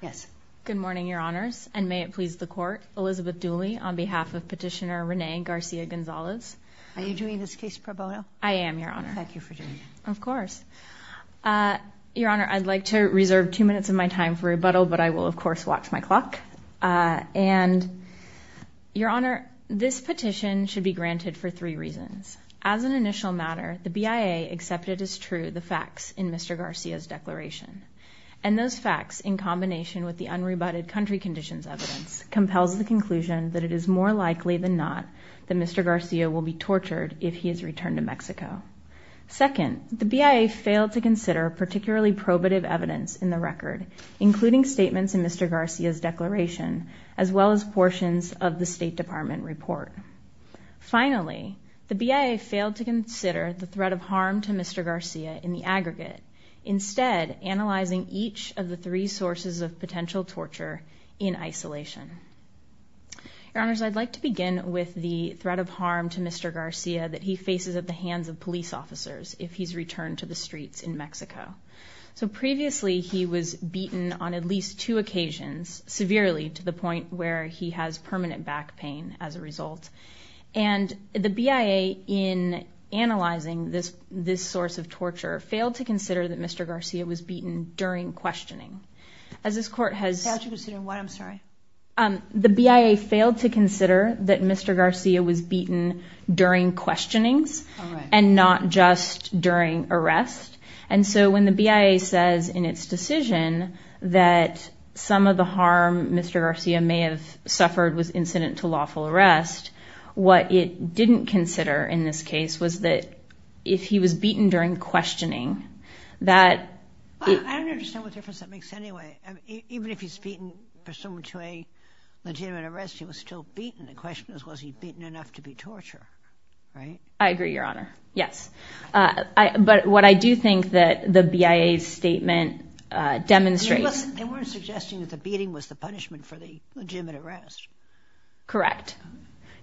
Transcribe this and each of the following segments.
yes good morning your honors and may it please the court Elizabeth Dooley on behalf of petitioner Renee Garcia-Gonzalez are you doing this case pro bono I am your honor thank you for doing it of course your honor I'd like to reserve two minutes of my time for rebuttal but I will of course watch my clock and your honor this petition should be granted for three reasons as an initial matter the BIA accepted as true the facts in mr. Garcia's and those facts in combination with the unrebutted country conditions evidence compels the conclusion that it is more likely than not that mr. Garcia will be tortured if he is returned to Mexico second the BIA failed to consider particularly probative evidence in the record including statements in mr. Garcia's declaration as well as portions of the State Department report finally the BIA failed to consider the threat of harm to mr. Garcia in the aggregate instead analyzing each of the three sources of potential torture in isolation your honors I'd like to begin with the threat of harm to mr. Garcia that he faces at the hands of police officers if he's returned to the streets in Mexico so previously he was beaten on at least two occasions severely to the point where he has permanent back pain as a result and the BIA in analyzing this source of torture failed to consider that mr. Garcia was beaten during questioning as this court has the BIA failed to consider that mr. Garcia was beaten during questionings and not just during arrest and so when the BIA says in its decision that some of the harm mr. Garcia may have suffered was incident to lawful arrest what it didn't consider in this case was that if he was beaten during questioning that I agree your honor yes I but what I do think that the BIA statement demonstrates they weren't suggesting that the beating was the correct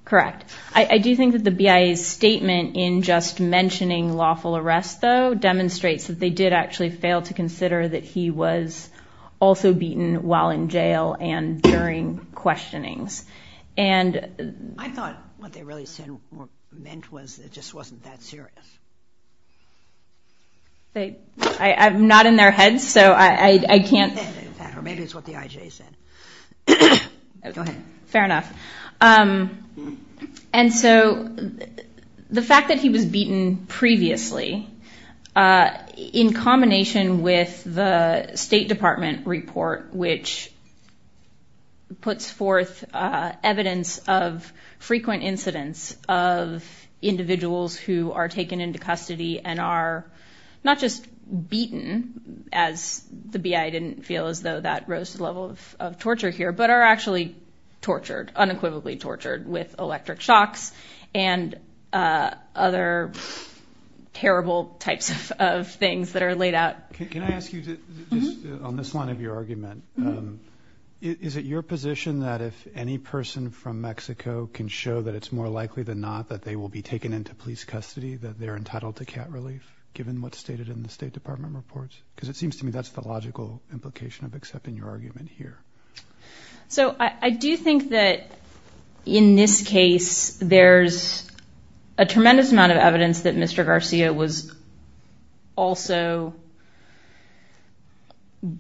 correct I do think that the BIA's statement in just mentioning lawful arrest though demonstrates that they did actually fail to consider that he was also beaten while in jail and during questionings and I thought what they really said meant was it just wasn't that serious they I'm not in their heads so I can't fair enough and so the fact that he was beaten previously in combination with the State Department report which puts forth evidence of frequent incidents of individuals who are taken into custody and are not just beaten as the BI didn't feel as though that rose to the level of torture here but are actually tortured unequivocally tortured with electric shocks and other terrible types of things that are laid out can I ask you on this line of your argument is it your position that if any person from Mexico can show that it's more likely than not that they will be taken into police custody that they're stated in the State Department reports because it seems to me that's the logical implication of accepting your argument here so I do think that in this case there's a tremendous amount of evidence that mr. Garcia was also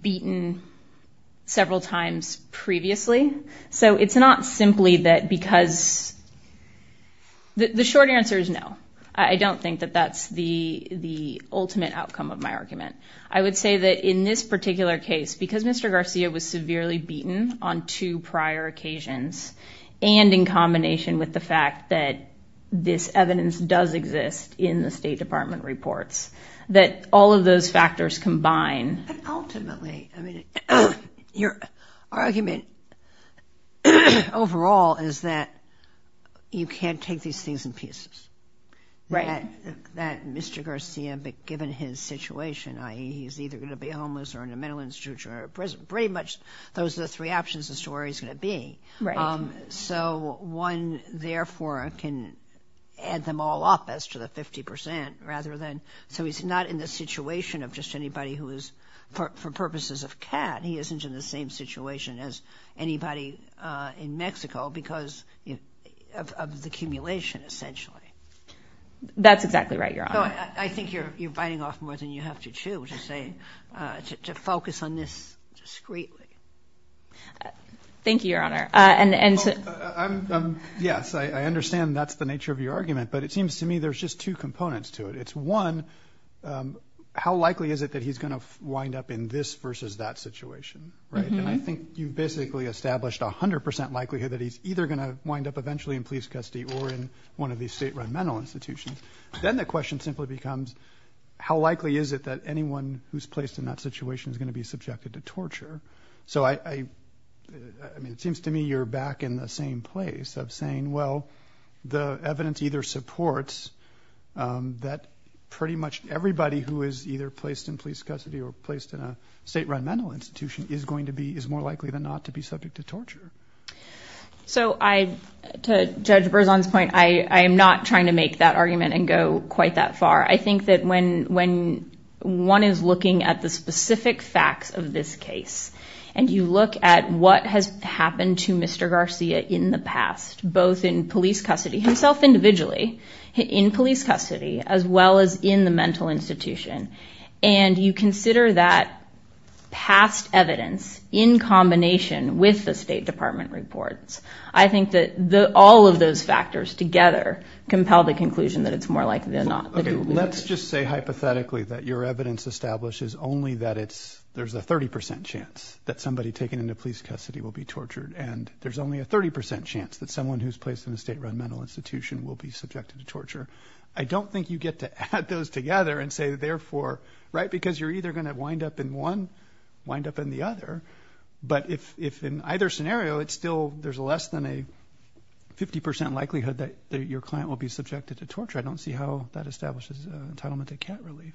beaten several times previously so it's not simply that because the short answer is I don't think that that's the the ultimate outcome of my argument I would say that in this particular case because mr. Garcia was severely beaten on two prior occasions and in combination with the fact that this evidence does exist in the State Department reports that all of those factors combine your argument overall is that you can't take these things in pieces right that mr. Garcia but given his situation I he's either gonna be homeless or in a mental institution or prison pretty much those are the three options the story's gonna be right so one therefore can add them all up as to the 50% rather than so he's not in the situation of just anybody who is for purposes of cat he isn't in the same situation as anybody in Mexico because of the cumulation essentially that's exactly right you're on I think you're biting off more than you have to chew to say to focus on this discreetly thank you your honor and and yes I understand that's the nature of your argument but it seems to me there's just two components to it it's one how likely is it that he's gonna wind up in this versus that situation right and I think you basically established a hundred percent likelihood that he's either gonna wind up eventually in police custody or in one of these state run mental institutions then the question simply becomes how likely is it that anyone who's placed in that situation is going to be subjected to torture so I I mean it seems to me you're back in the same place of saying well the evidence either supports that pretty much everybody who is either placed in police custody or placed in a state run mental institution is going to be is more likely than not to be subject to torture so I to judge Burzon's point I am NOT trying to make that argument and go quite that far I think that when when one is looking at the specific facts of this case and you look at what has happened to mr. Garcia in the past both in police custody himself individually in police custody as well as in the mental institution and you consider that past evidence in combination with the State Department reports I think that the all of those factors together compel the conclusion that it's more likely than not let's just say hypothetically that your evidence establishes only that it's there's a 30% chance that somebody taken into police custody will be tortured and there's only a 30% chance that someone who's placed in the state run mental institution will be subjected to torture I don't think you get to add those together and say therefore right because you're either going to wind up in one wind up in the other but if if in either scenario it's still there's less than a 50% likelihood that your client will be subjected to torture I don't see how that establishes entitlement to cat relief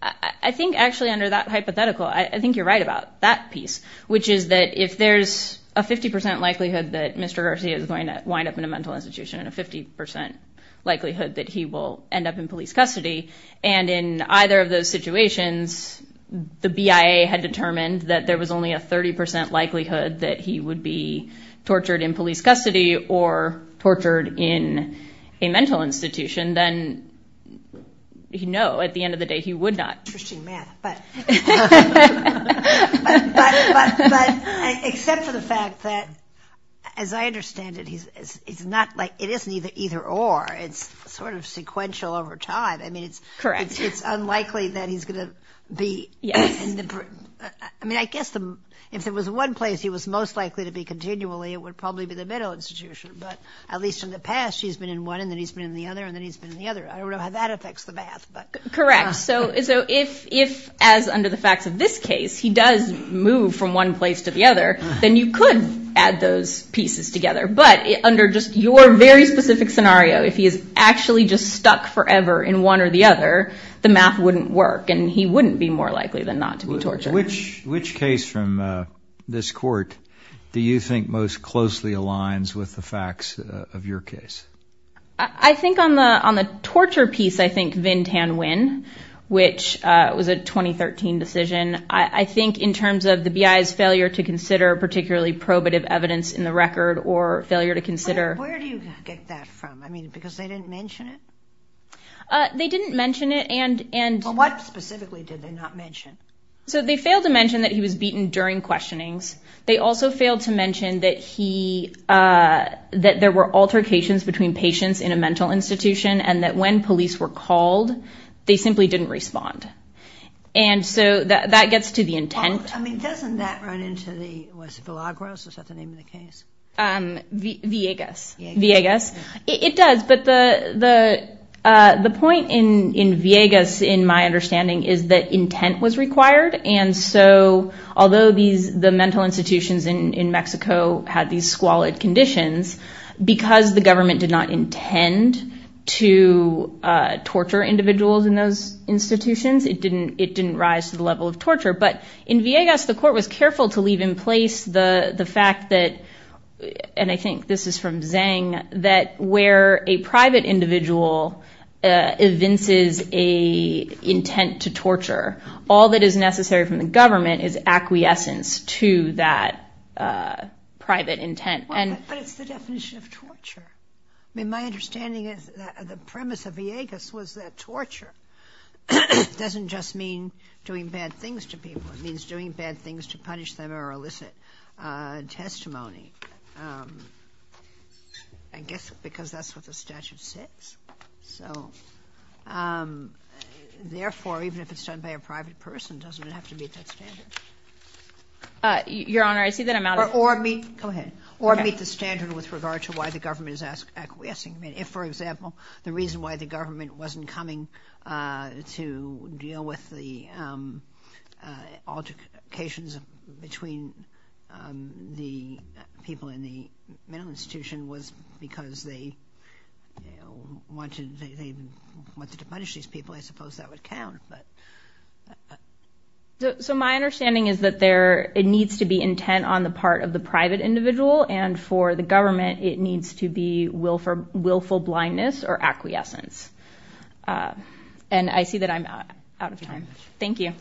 I think actually under that hypothetical I think you're right about that piece which is that if there's a 50% likelihood that mr. Garcia is going to wind up in a mental institution and a 50% likelihood that he will end up in police custody and in either of those situations the BIA had determined that there was only a 30% likelihood that he would be tortured in police custody or tortured in a mental institution then you know at the end of the day he would not as I understand it he's it's not like it isn't either either or it's sort of sequential over time I mean it's correct it's unlikely that he's gonna be yes I mean I guess them if there was one place he was most likely to be continually it would probably be the middle institution but at least in the past she's been in one and then he's been in the other and then he's been the other I don't know how that affects the bath but correct so so if if as under the facts of this case he does move from one place to the other then you could add those pieces together but under just your very specific scenario if he is actually just stuck forever in one or the other the math wouldn't work and he wouldn't be more likely than not to be torture which which case from this court do you think most closely aligns with the facts of your case I think on the on the torture piece I think Vintan win which was a 2013 decision I think in terms of the BI's failure to consider particularly probative evidence in the record or failure to consider they didn't mention it and and what specifically did they not mention so they failed to mention that he was beaten during questionings they also failed to mention that he that there were altercations between patients in a mental institution and that when police were called they simply didn't respond and so that gets to the intent I mean doesn't that run into the was filagros was that the name of the case the Vegas Vegas it does but the the the point in in Vegas in my understanding is that intent was required and so although the mental institutions in Mexico had these squalid conditions because the government did not intend to torture individuals in those institutions it didn't it didn't rise to the level of torture but in Vegas the court was careful to leave in place the the fact that and I think this is from saying that where a private individual evinces a intent to torture all that is necessary from the government is acquiescence to that private intent and but it's the definition of torture I mean my understanding is that the premise of Vegas was that torture doesn't just mean doing bad things to people it means doing bad things to punish them or elicit testimony I guess because that's what the statute says so therefore even if it's done by a private person doesn't have to meet that standard your honor I see that I'm out or me go ahead or meet the standard with regard to why the government is asked acquiescing I mean if for example the reason why the government wasn't coming to deal with the altercations between the people in the mental institution was because they wanted they wanted to punish these people I suppose that would so my understanding is that there it needs to be intent on the part of the private individual and for the government it needs to be willful blindness or acquiescence and I see that I'm out of time thank you you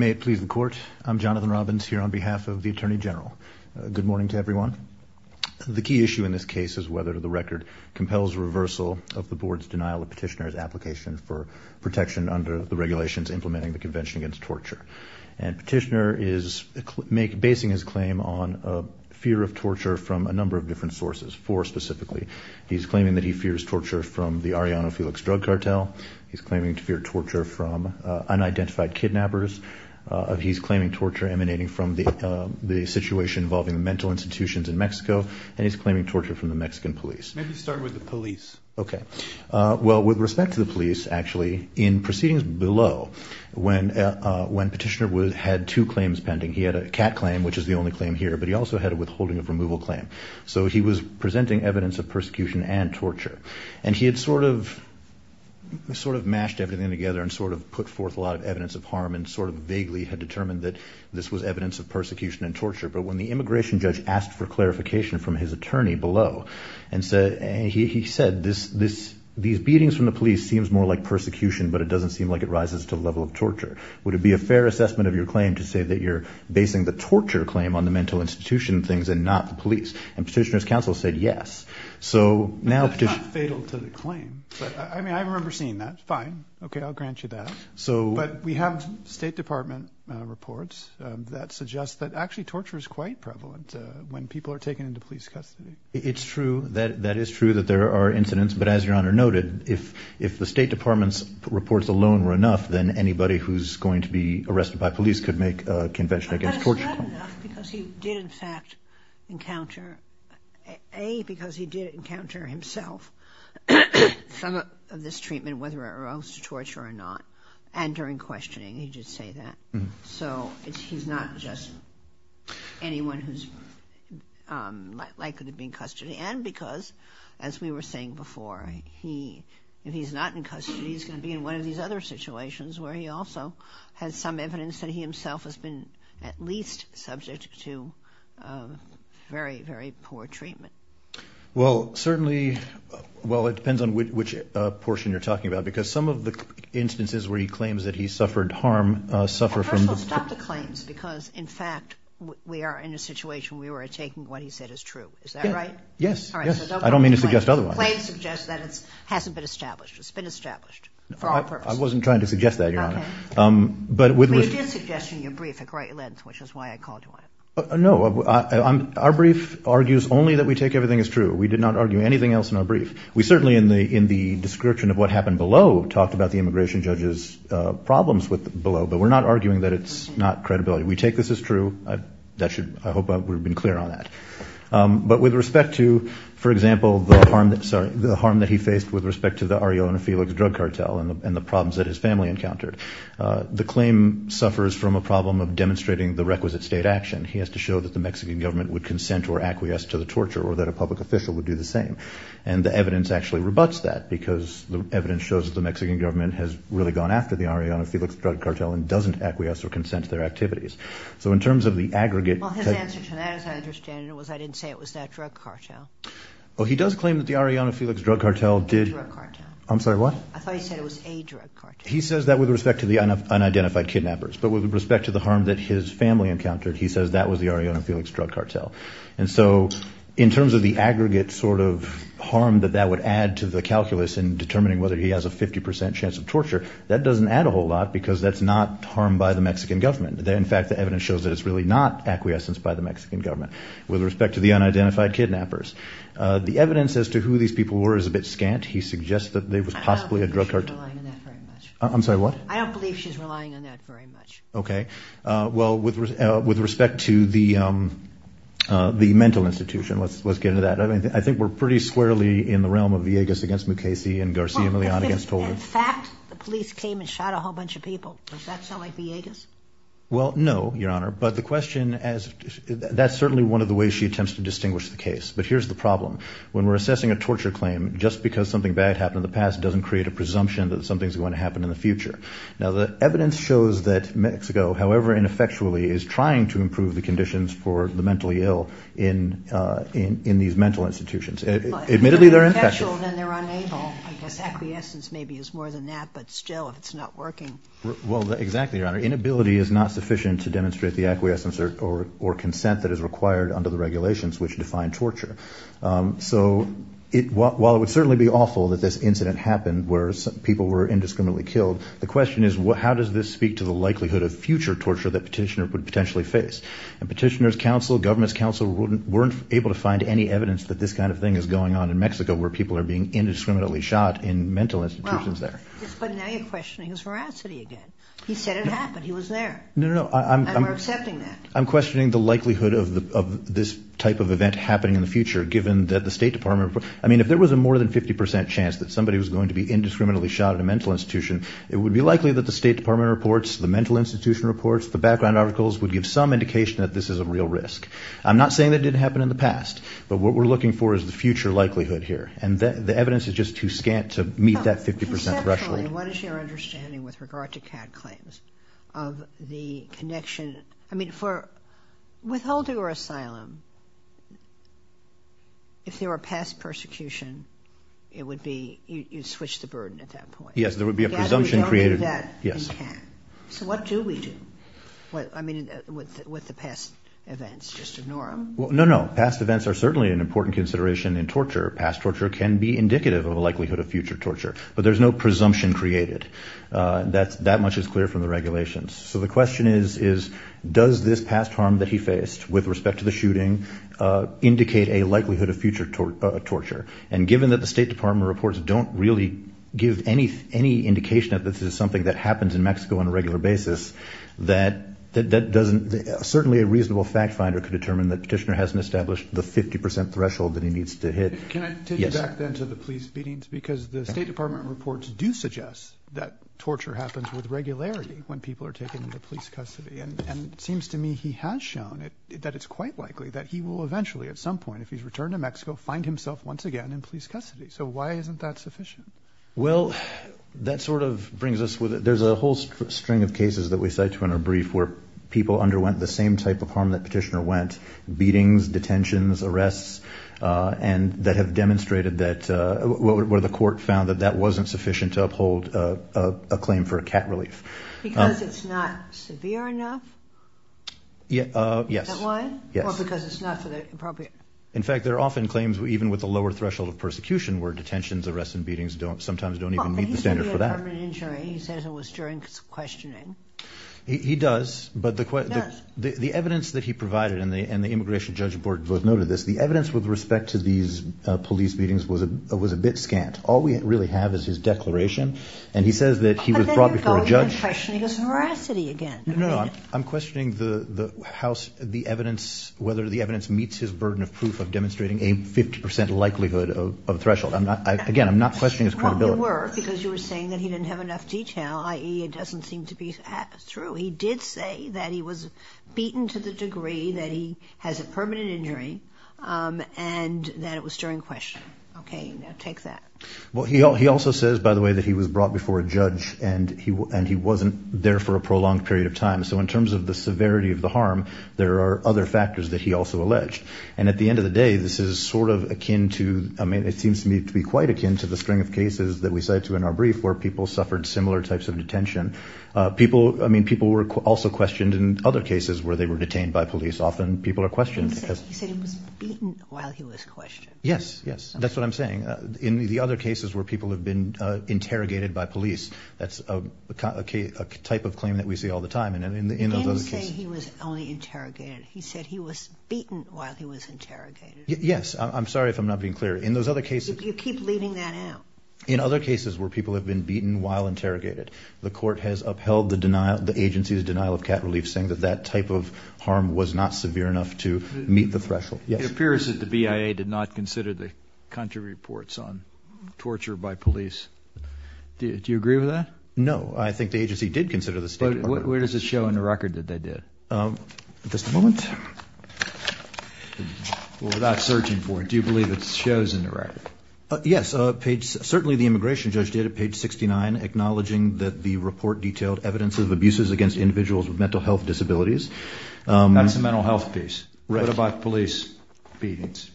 may it please the court I'm Jonathan Robbins here on behalf of the Attorney General good morning to everyone the key issue in this case is whether the record compels reversal of the board's denial of petitioner's application for protection under the regulations implementing the Convention against torture and petitioner is make basing his claim on a fear of torture from a number of different sources for specifically he's claiming that he fears torture from the Ariana Felix drug cartel he's claiming to fear torture from unidentified kidnappers of he's claiming torture emanating from the the situation involving the mental institutions in Mexico and he's claiming torture from the Mexican police maybe start with the police okay well with respect to the police actually in proceedings below when when petitioner was had two claims pending he had a cat claim which is the only claim here but he also had a withholding of removal claim so he was presenting evidence of persecution and torture and he had sort of sort of mashed everything together and sort of put forth a lot of evidence of harm and sort of vaguely had determined that this was evidence of persecution and torture but when the immigration judge asked for clarification from his attorney below and said and he said this this these beatings from the police seems more like persecution but it doesn't seem like it rises to the level of torture would it be a fair assessment of your claim to say that you're basing the torture claim on the mental institution things and not the police and petitioners counsel said yes so now I mean I remember seeing that fine okay I'll grant you that so but we have State Department reports that suggest that actually torture is quite prevalent when people are taken into police custody it's true that that is true that there are incidents but as your honor noted if if the State Department's reports alone were enough then anybody who's going to be arrested by police could make a convention against torture because he did in fact encounter a because he did encounter himself some of this treatment whether it arose to torture or not and during questioning he did say that so it's he's not just anyone who's likely to be in custody and because as we were saying before he if he's not in custody he's gonna be in one of these other situations where he also has some evidence that he himself has been at least subject to very very poor treatment well certainly well it depends on which portion you're talking about because some of the instances where he was in fact we are in a situation we were taking what he said is true is that right yes I don't mean to suggest otherwise that it hasn't been established it's been established I wasn't trying to suggest that you're on it but with which is why I called you I know I'm our brief argues only that we take everything is true we did not argue anything else in our brief we certainly in the in the description of what happened below talked about the immigration judges problems with below but we're not arguing that it's not credibility we take this is true that should I hope we've been clear on that but with respect to for example the harm that sorry the harm that he faced with respect to the Ariona Felix drug cartel and the problems that his family encountered the claim suffers from a problem of demonstrating the requisite state action he has to show that the Mexican government would consent or acquiesce to the torture or that a public official would do the same and the evidence actually rebuts that because the evidence shows the Mexican government has really gone after the Arianna Felix drug cartel and doesn't acquiesce or consent to their activities so in terms of the aggregate I didn't say it was that drug cartel well he does claim that the Arianna Felix drug cartel did I'm sorry what he says that with respect to the unidentified kidnappers but with respect to the harm that his family encountered he says that was the Arianna Felix drug cartel and so in terms of the aggregate sort of harm that that would add to the calculus in determining whether he has a 50% chance of torture that doesn't add a whole lot because that's not harmed by the Mexican government there in fact the evidence shows that it's really not acquiescence by the Mexican government with respect to the unidentified kidnappers the evidence as to who these people were is a bit scant he suggests that they was possibly a drug cartel I'm sorry what okay well with with respect to the the mental institution let's let's get into that I mean I think we're pretty squarely in the realm of Viegas against Mukasey and Garcia Millan against the police came and shot a whole bunch of people well no your honor but the question as that's certainly one of the ways she attempts to distinguish the case but here's the problem when we're assessing a torture claim just because something bad happened in the past doesn't create a presumption that something's going to happen in the future now the evidence shows that Mexico however ineffectually is trying to improve the conditions for the mentally ill in in these mental institutions admittedly they're I guess acquiescence maybe is more than that but still if it's not working well exactly your honor inability is not sufficient to demonstrate the acquiescence or or consent that is required under the regulations which define torture so it while it would certainly be awful that this incident happened where some people were indiscriminately killed the question is what how does this speak to the likelihood of future torture that petitioner would potentially face and petitioners counsel government's counsel wouldn't weren't able to find any evidence that this kind of thing is going on in Mexico where people are being indiscriminately shot in mental institutions there he said it happened he was there no I'm accepting that I'm questioning the likelihood of the of this type of event happening in the future given that the State Department I mean if there was a more than 50% chance that somebody was going to be indiscriminately shot at a mental institution it would be likely that the State Department reports the mental institution reports the background articles would give some indication that this is a real risk I'm not saying that didn't happen in the past but what we're looking for is the future likelihood here and then the evidence is just too scant to meet that 50% threshold what is your understanding with regard to cat claims of the connection I mean for withholding or asylum if there were past persecution it would be you switch the burden at that point yes there would be a presumption created that yes so what do we do what I mean with the past no no past events are certainly an important consideration in torture past torture can be indicative of a likelihood of future torture but there's no presumption created that's that much is clear from the regulations so the question is is does this past harm that he faced with respect to the shooting indicate a likelihood of future torture and given that the State Department reports don't really give any any indication that this is something that happens in Mexico on a regular basis that that doesn't certainly a reasonable fact finder could determine that petitioner hasn't established the 50% threshold that he needs to hit because the State Department reports do suggest that torture happens with regularity when people are taken into police custody and it seems to me he has shown it that it's quite likely that he will eventually at some point if he's returned to Mexico find himself once again in police custody so why isn't that sufficient well that sort of brings us with it there's a whole string of cases that we cite to in our brief where people underwent the same type of harm that petitioner went beatings detentions arrests and that have demonstrated that where the court found that that wasn't sufficient to uphold a claim for a cat relief because it's not severe enough yeah yes in fact there are often claims we even with the lower threshold of persecution where detentions arrests and beatings don't sometimes don't even he does but the question the evidence that he provided in the and the immigration judge board both noted this the evidence with respect to these police beatings was a was a bit scant all we really have is his declaration and he says that he was brought before a judge I'm questioning the the house the evidence whether the evidence meets his burden of proof of demonstrating a 50% likelihood of threshold I'm not again I'm not questioning his credibility because you were saying that he didn't have enough detail ie it doesn't seem to be through he did say that he was beaten to the degree that he has a permanent injury and that it was during question okay now take that well he all he also says by the way that he was brought before a judge and he and he wasn't there for a prolonged period of time so in terms of the severity of the harm there are other factors that he also alleged and at the end of the day this is sort of akin to I mean it seems to me to be quite akin to the string of cases that we say to in our brief where people suffered similar types of detention people I mean people were also questioned in other cases where they were detained by police often people are questioned yes yes that's what I'm saying in the other cases where people have been interrogated by police that's a type of claim that we see all the time and in the end he was only interrogated he said he was beaten while he was interrogated yes I'm sorry if I'm not being clear in those other cases you keep leaving that out in other cases where people have been beaten while interrogated the court has upheld the denial the agency's denial of cat relief saying that that type of harm was not severe enough to meet the threshold it appears that the BIA did not consider the country reports on torture by police did you agree with that no I think the agency did consider the state where does it show in the record that they did at the moment without searching for it do you believe it shows in the record yes page certainly the immigration judge did at page 69 acknowledging that the report detailed evidence of abuses against individuals with mental health disabilities that's a mental health piece right about police beatings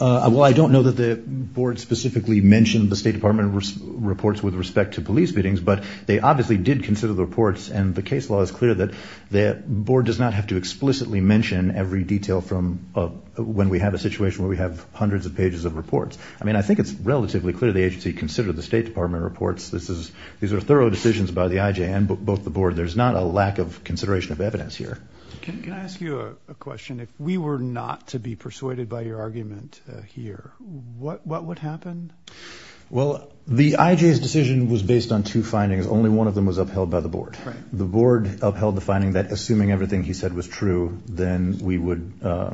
well I don't know that the board specifically mentioned the State Department reports with respect to police beatings but they obviously did consider the reports and the case law is clear that that board does not have to explicitly mention every detail from when we have a situation where we have hundreds of pages of reports I mean I think it's relatively clear the agency considered the State Department reports this is these are thorough decisions by the IJ and both the board there's not a lack of consideration of evidence here can I ask you a question if we were not to be persuaded by your argument here what what would happen well the IJ's decision was based on two findings only one of the board upheld the finding that assuming everything he said was true then we would the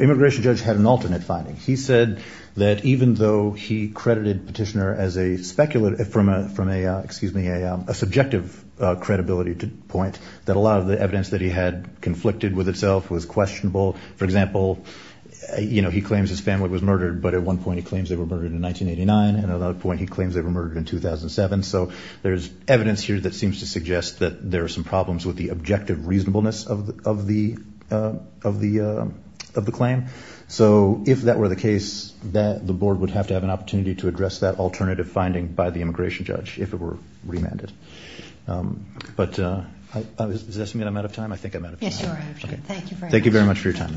immigration judge had an alternate finding he said that even though he credited petitioner as a speculative from a from a excuse me a subjective credibility to point that a lot of the evidence that he had conflicted with itself was questionable for example you know he claims his family was murdered but at one point he claims they were murdered in 1989 and at there's evidence here that seems to suggest that there are some problems with the objective reasonableness of the of the of the of the claim so if that were the case that the board would have to have an opportunity to address that alternative finding by the immigration judge if it were remanded but I'm out of time I think I'm out of thank you thank you very much for your time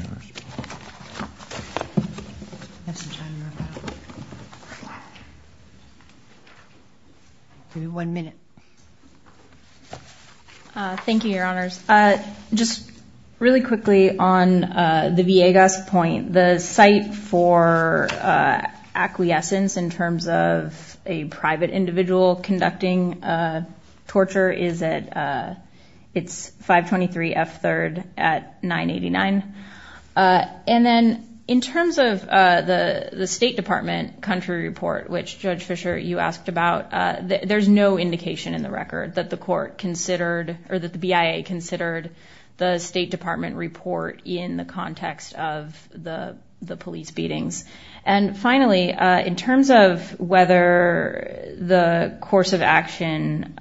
one minute thank you your honors just really quickly on the Viegas point the site for acquiescence in terms of a private individual conducting torture is it's 523 f-3rd at 989 and then in terms of the the State Department country report which judge Fisher you asked about there's no indication in the record that the court considered or that the BIA considered the State Department report in the context of the the police beatings and finally in terms of whether the course of action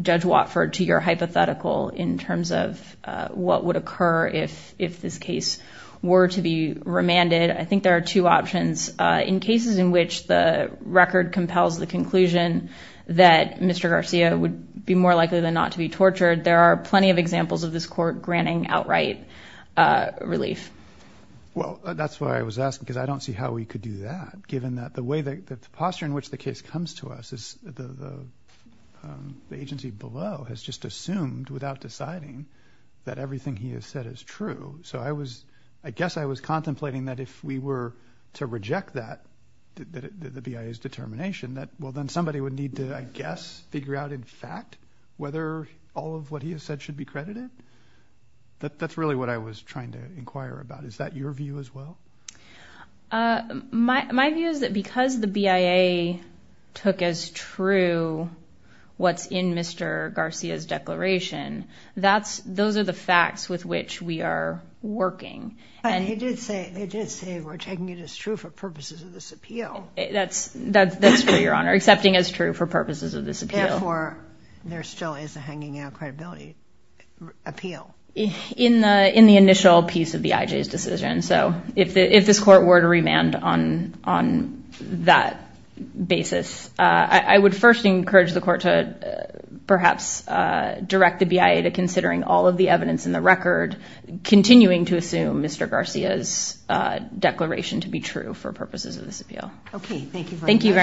judge Watford to your hypothetical in terms of what would occur if if this case were to be remanded I think there are two options in cases in which the record compels the conclusion that mr. Garcia would be more likely than not to be tortured there are plenty of examples of this court granting outright relief well that's why I was asking because I don't see how we could do that given that the way that the posture in which the case comes to us is the the agency below has just assumed without deciding that everything he has said is true so I was I guess I was contemplating that if we were to reject that the BIA's determination that well then somebody would need to I guess figure out in fact whether all of what he has said should be credited that that's really what I was trying to inquire about is that your view as well my view is that because the BIA took as true what's in mr. Garcia's declaration that's those are the facts with which we are working and he did say they just say we're taking it as true for purposes of this appeal that's that's that's for your honor accepting as true for purposes of this appeal or there still is a hanging out credibility appeal in the in the initial piece of the IJ's decision so if the if this court were to remand on on that basis I would first encourage the court to perhaps direct the BIA to considering all of the evidence in the record continuing to assume mr. Garcia's declaration to be true for purposes of this appeal okay thank you very much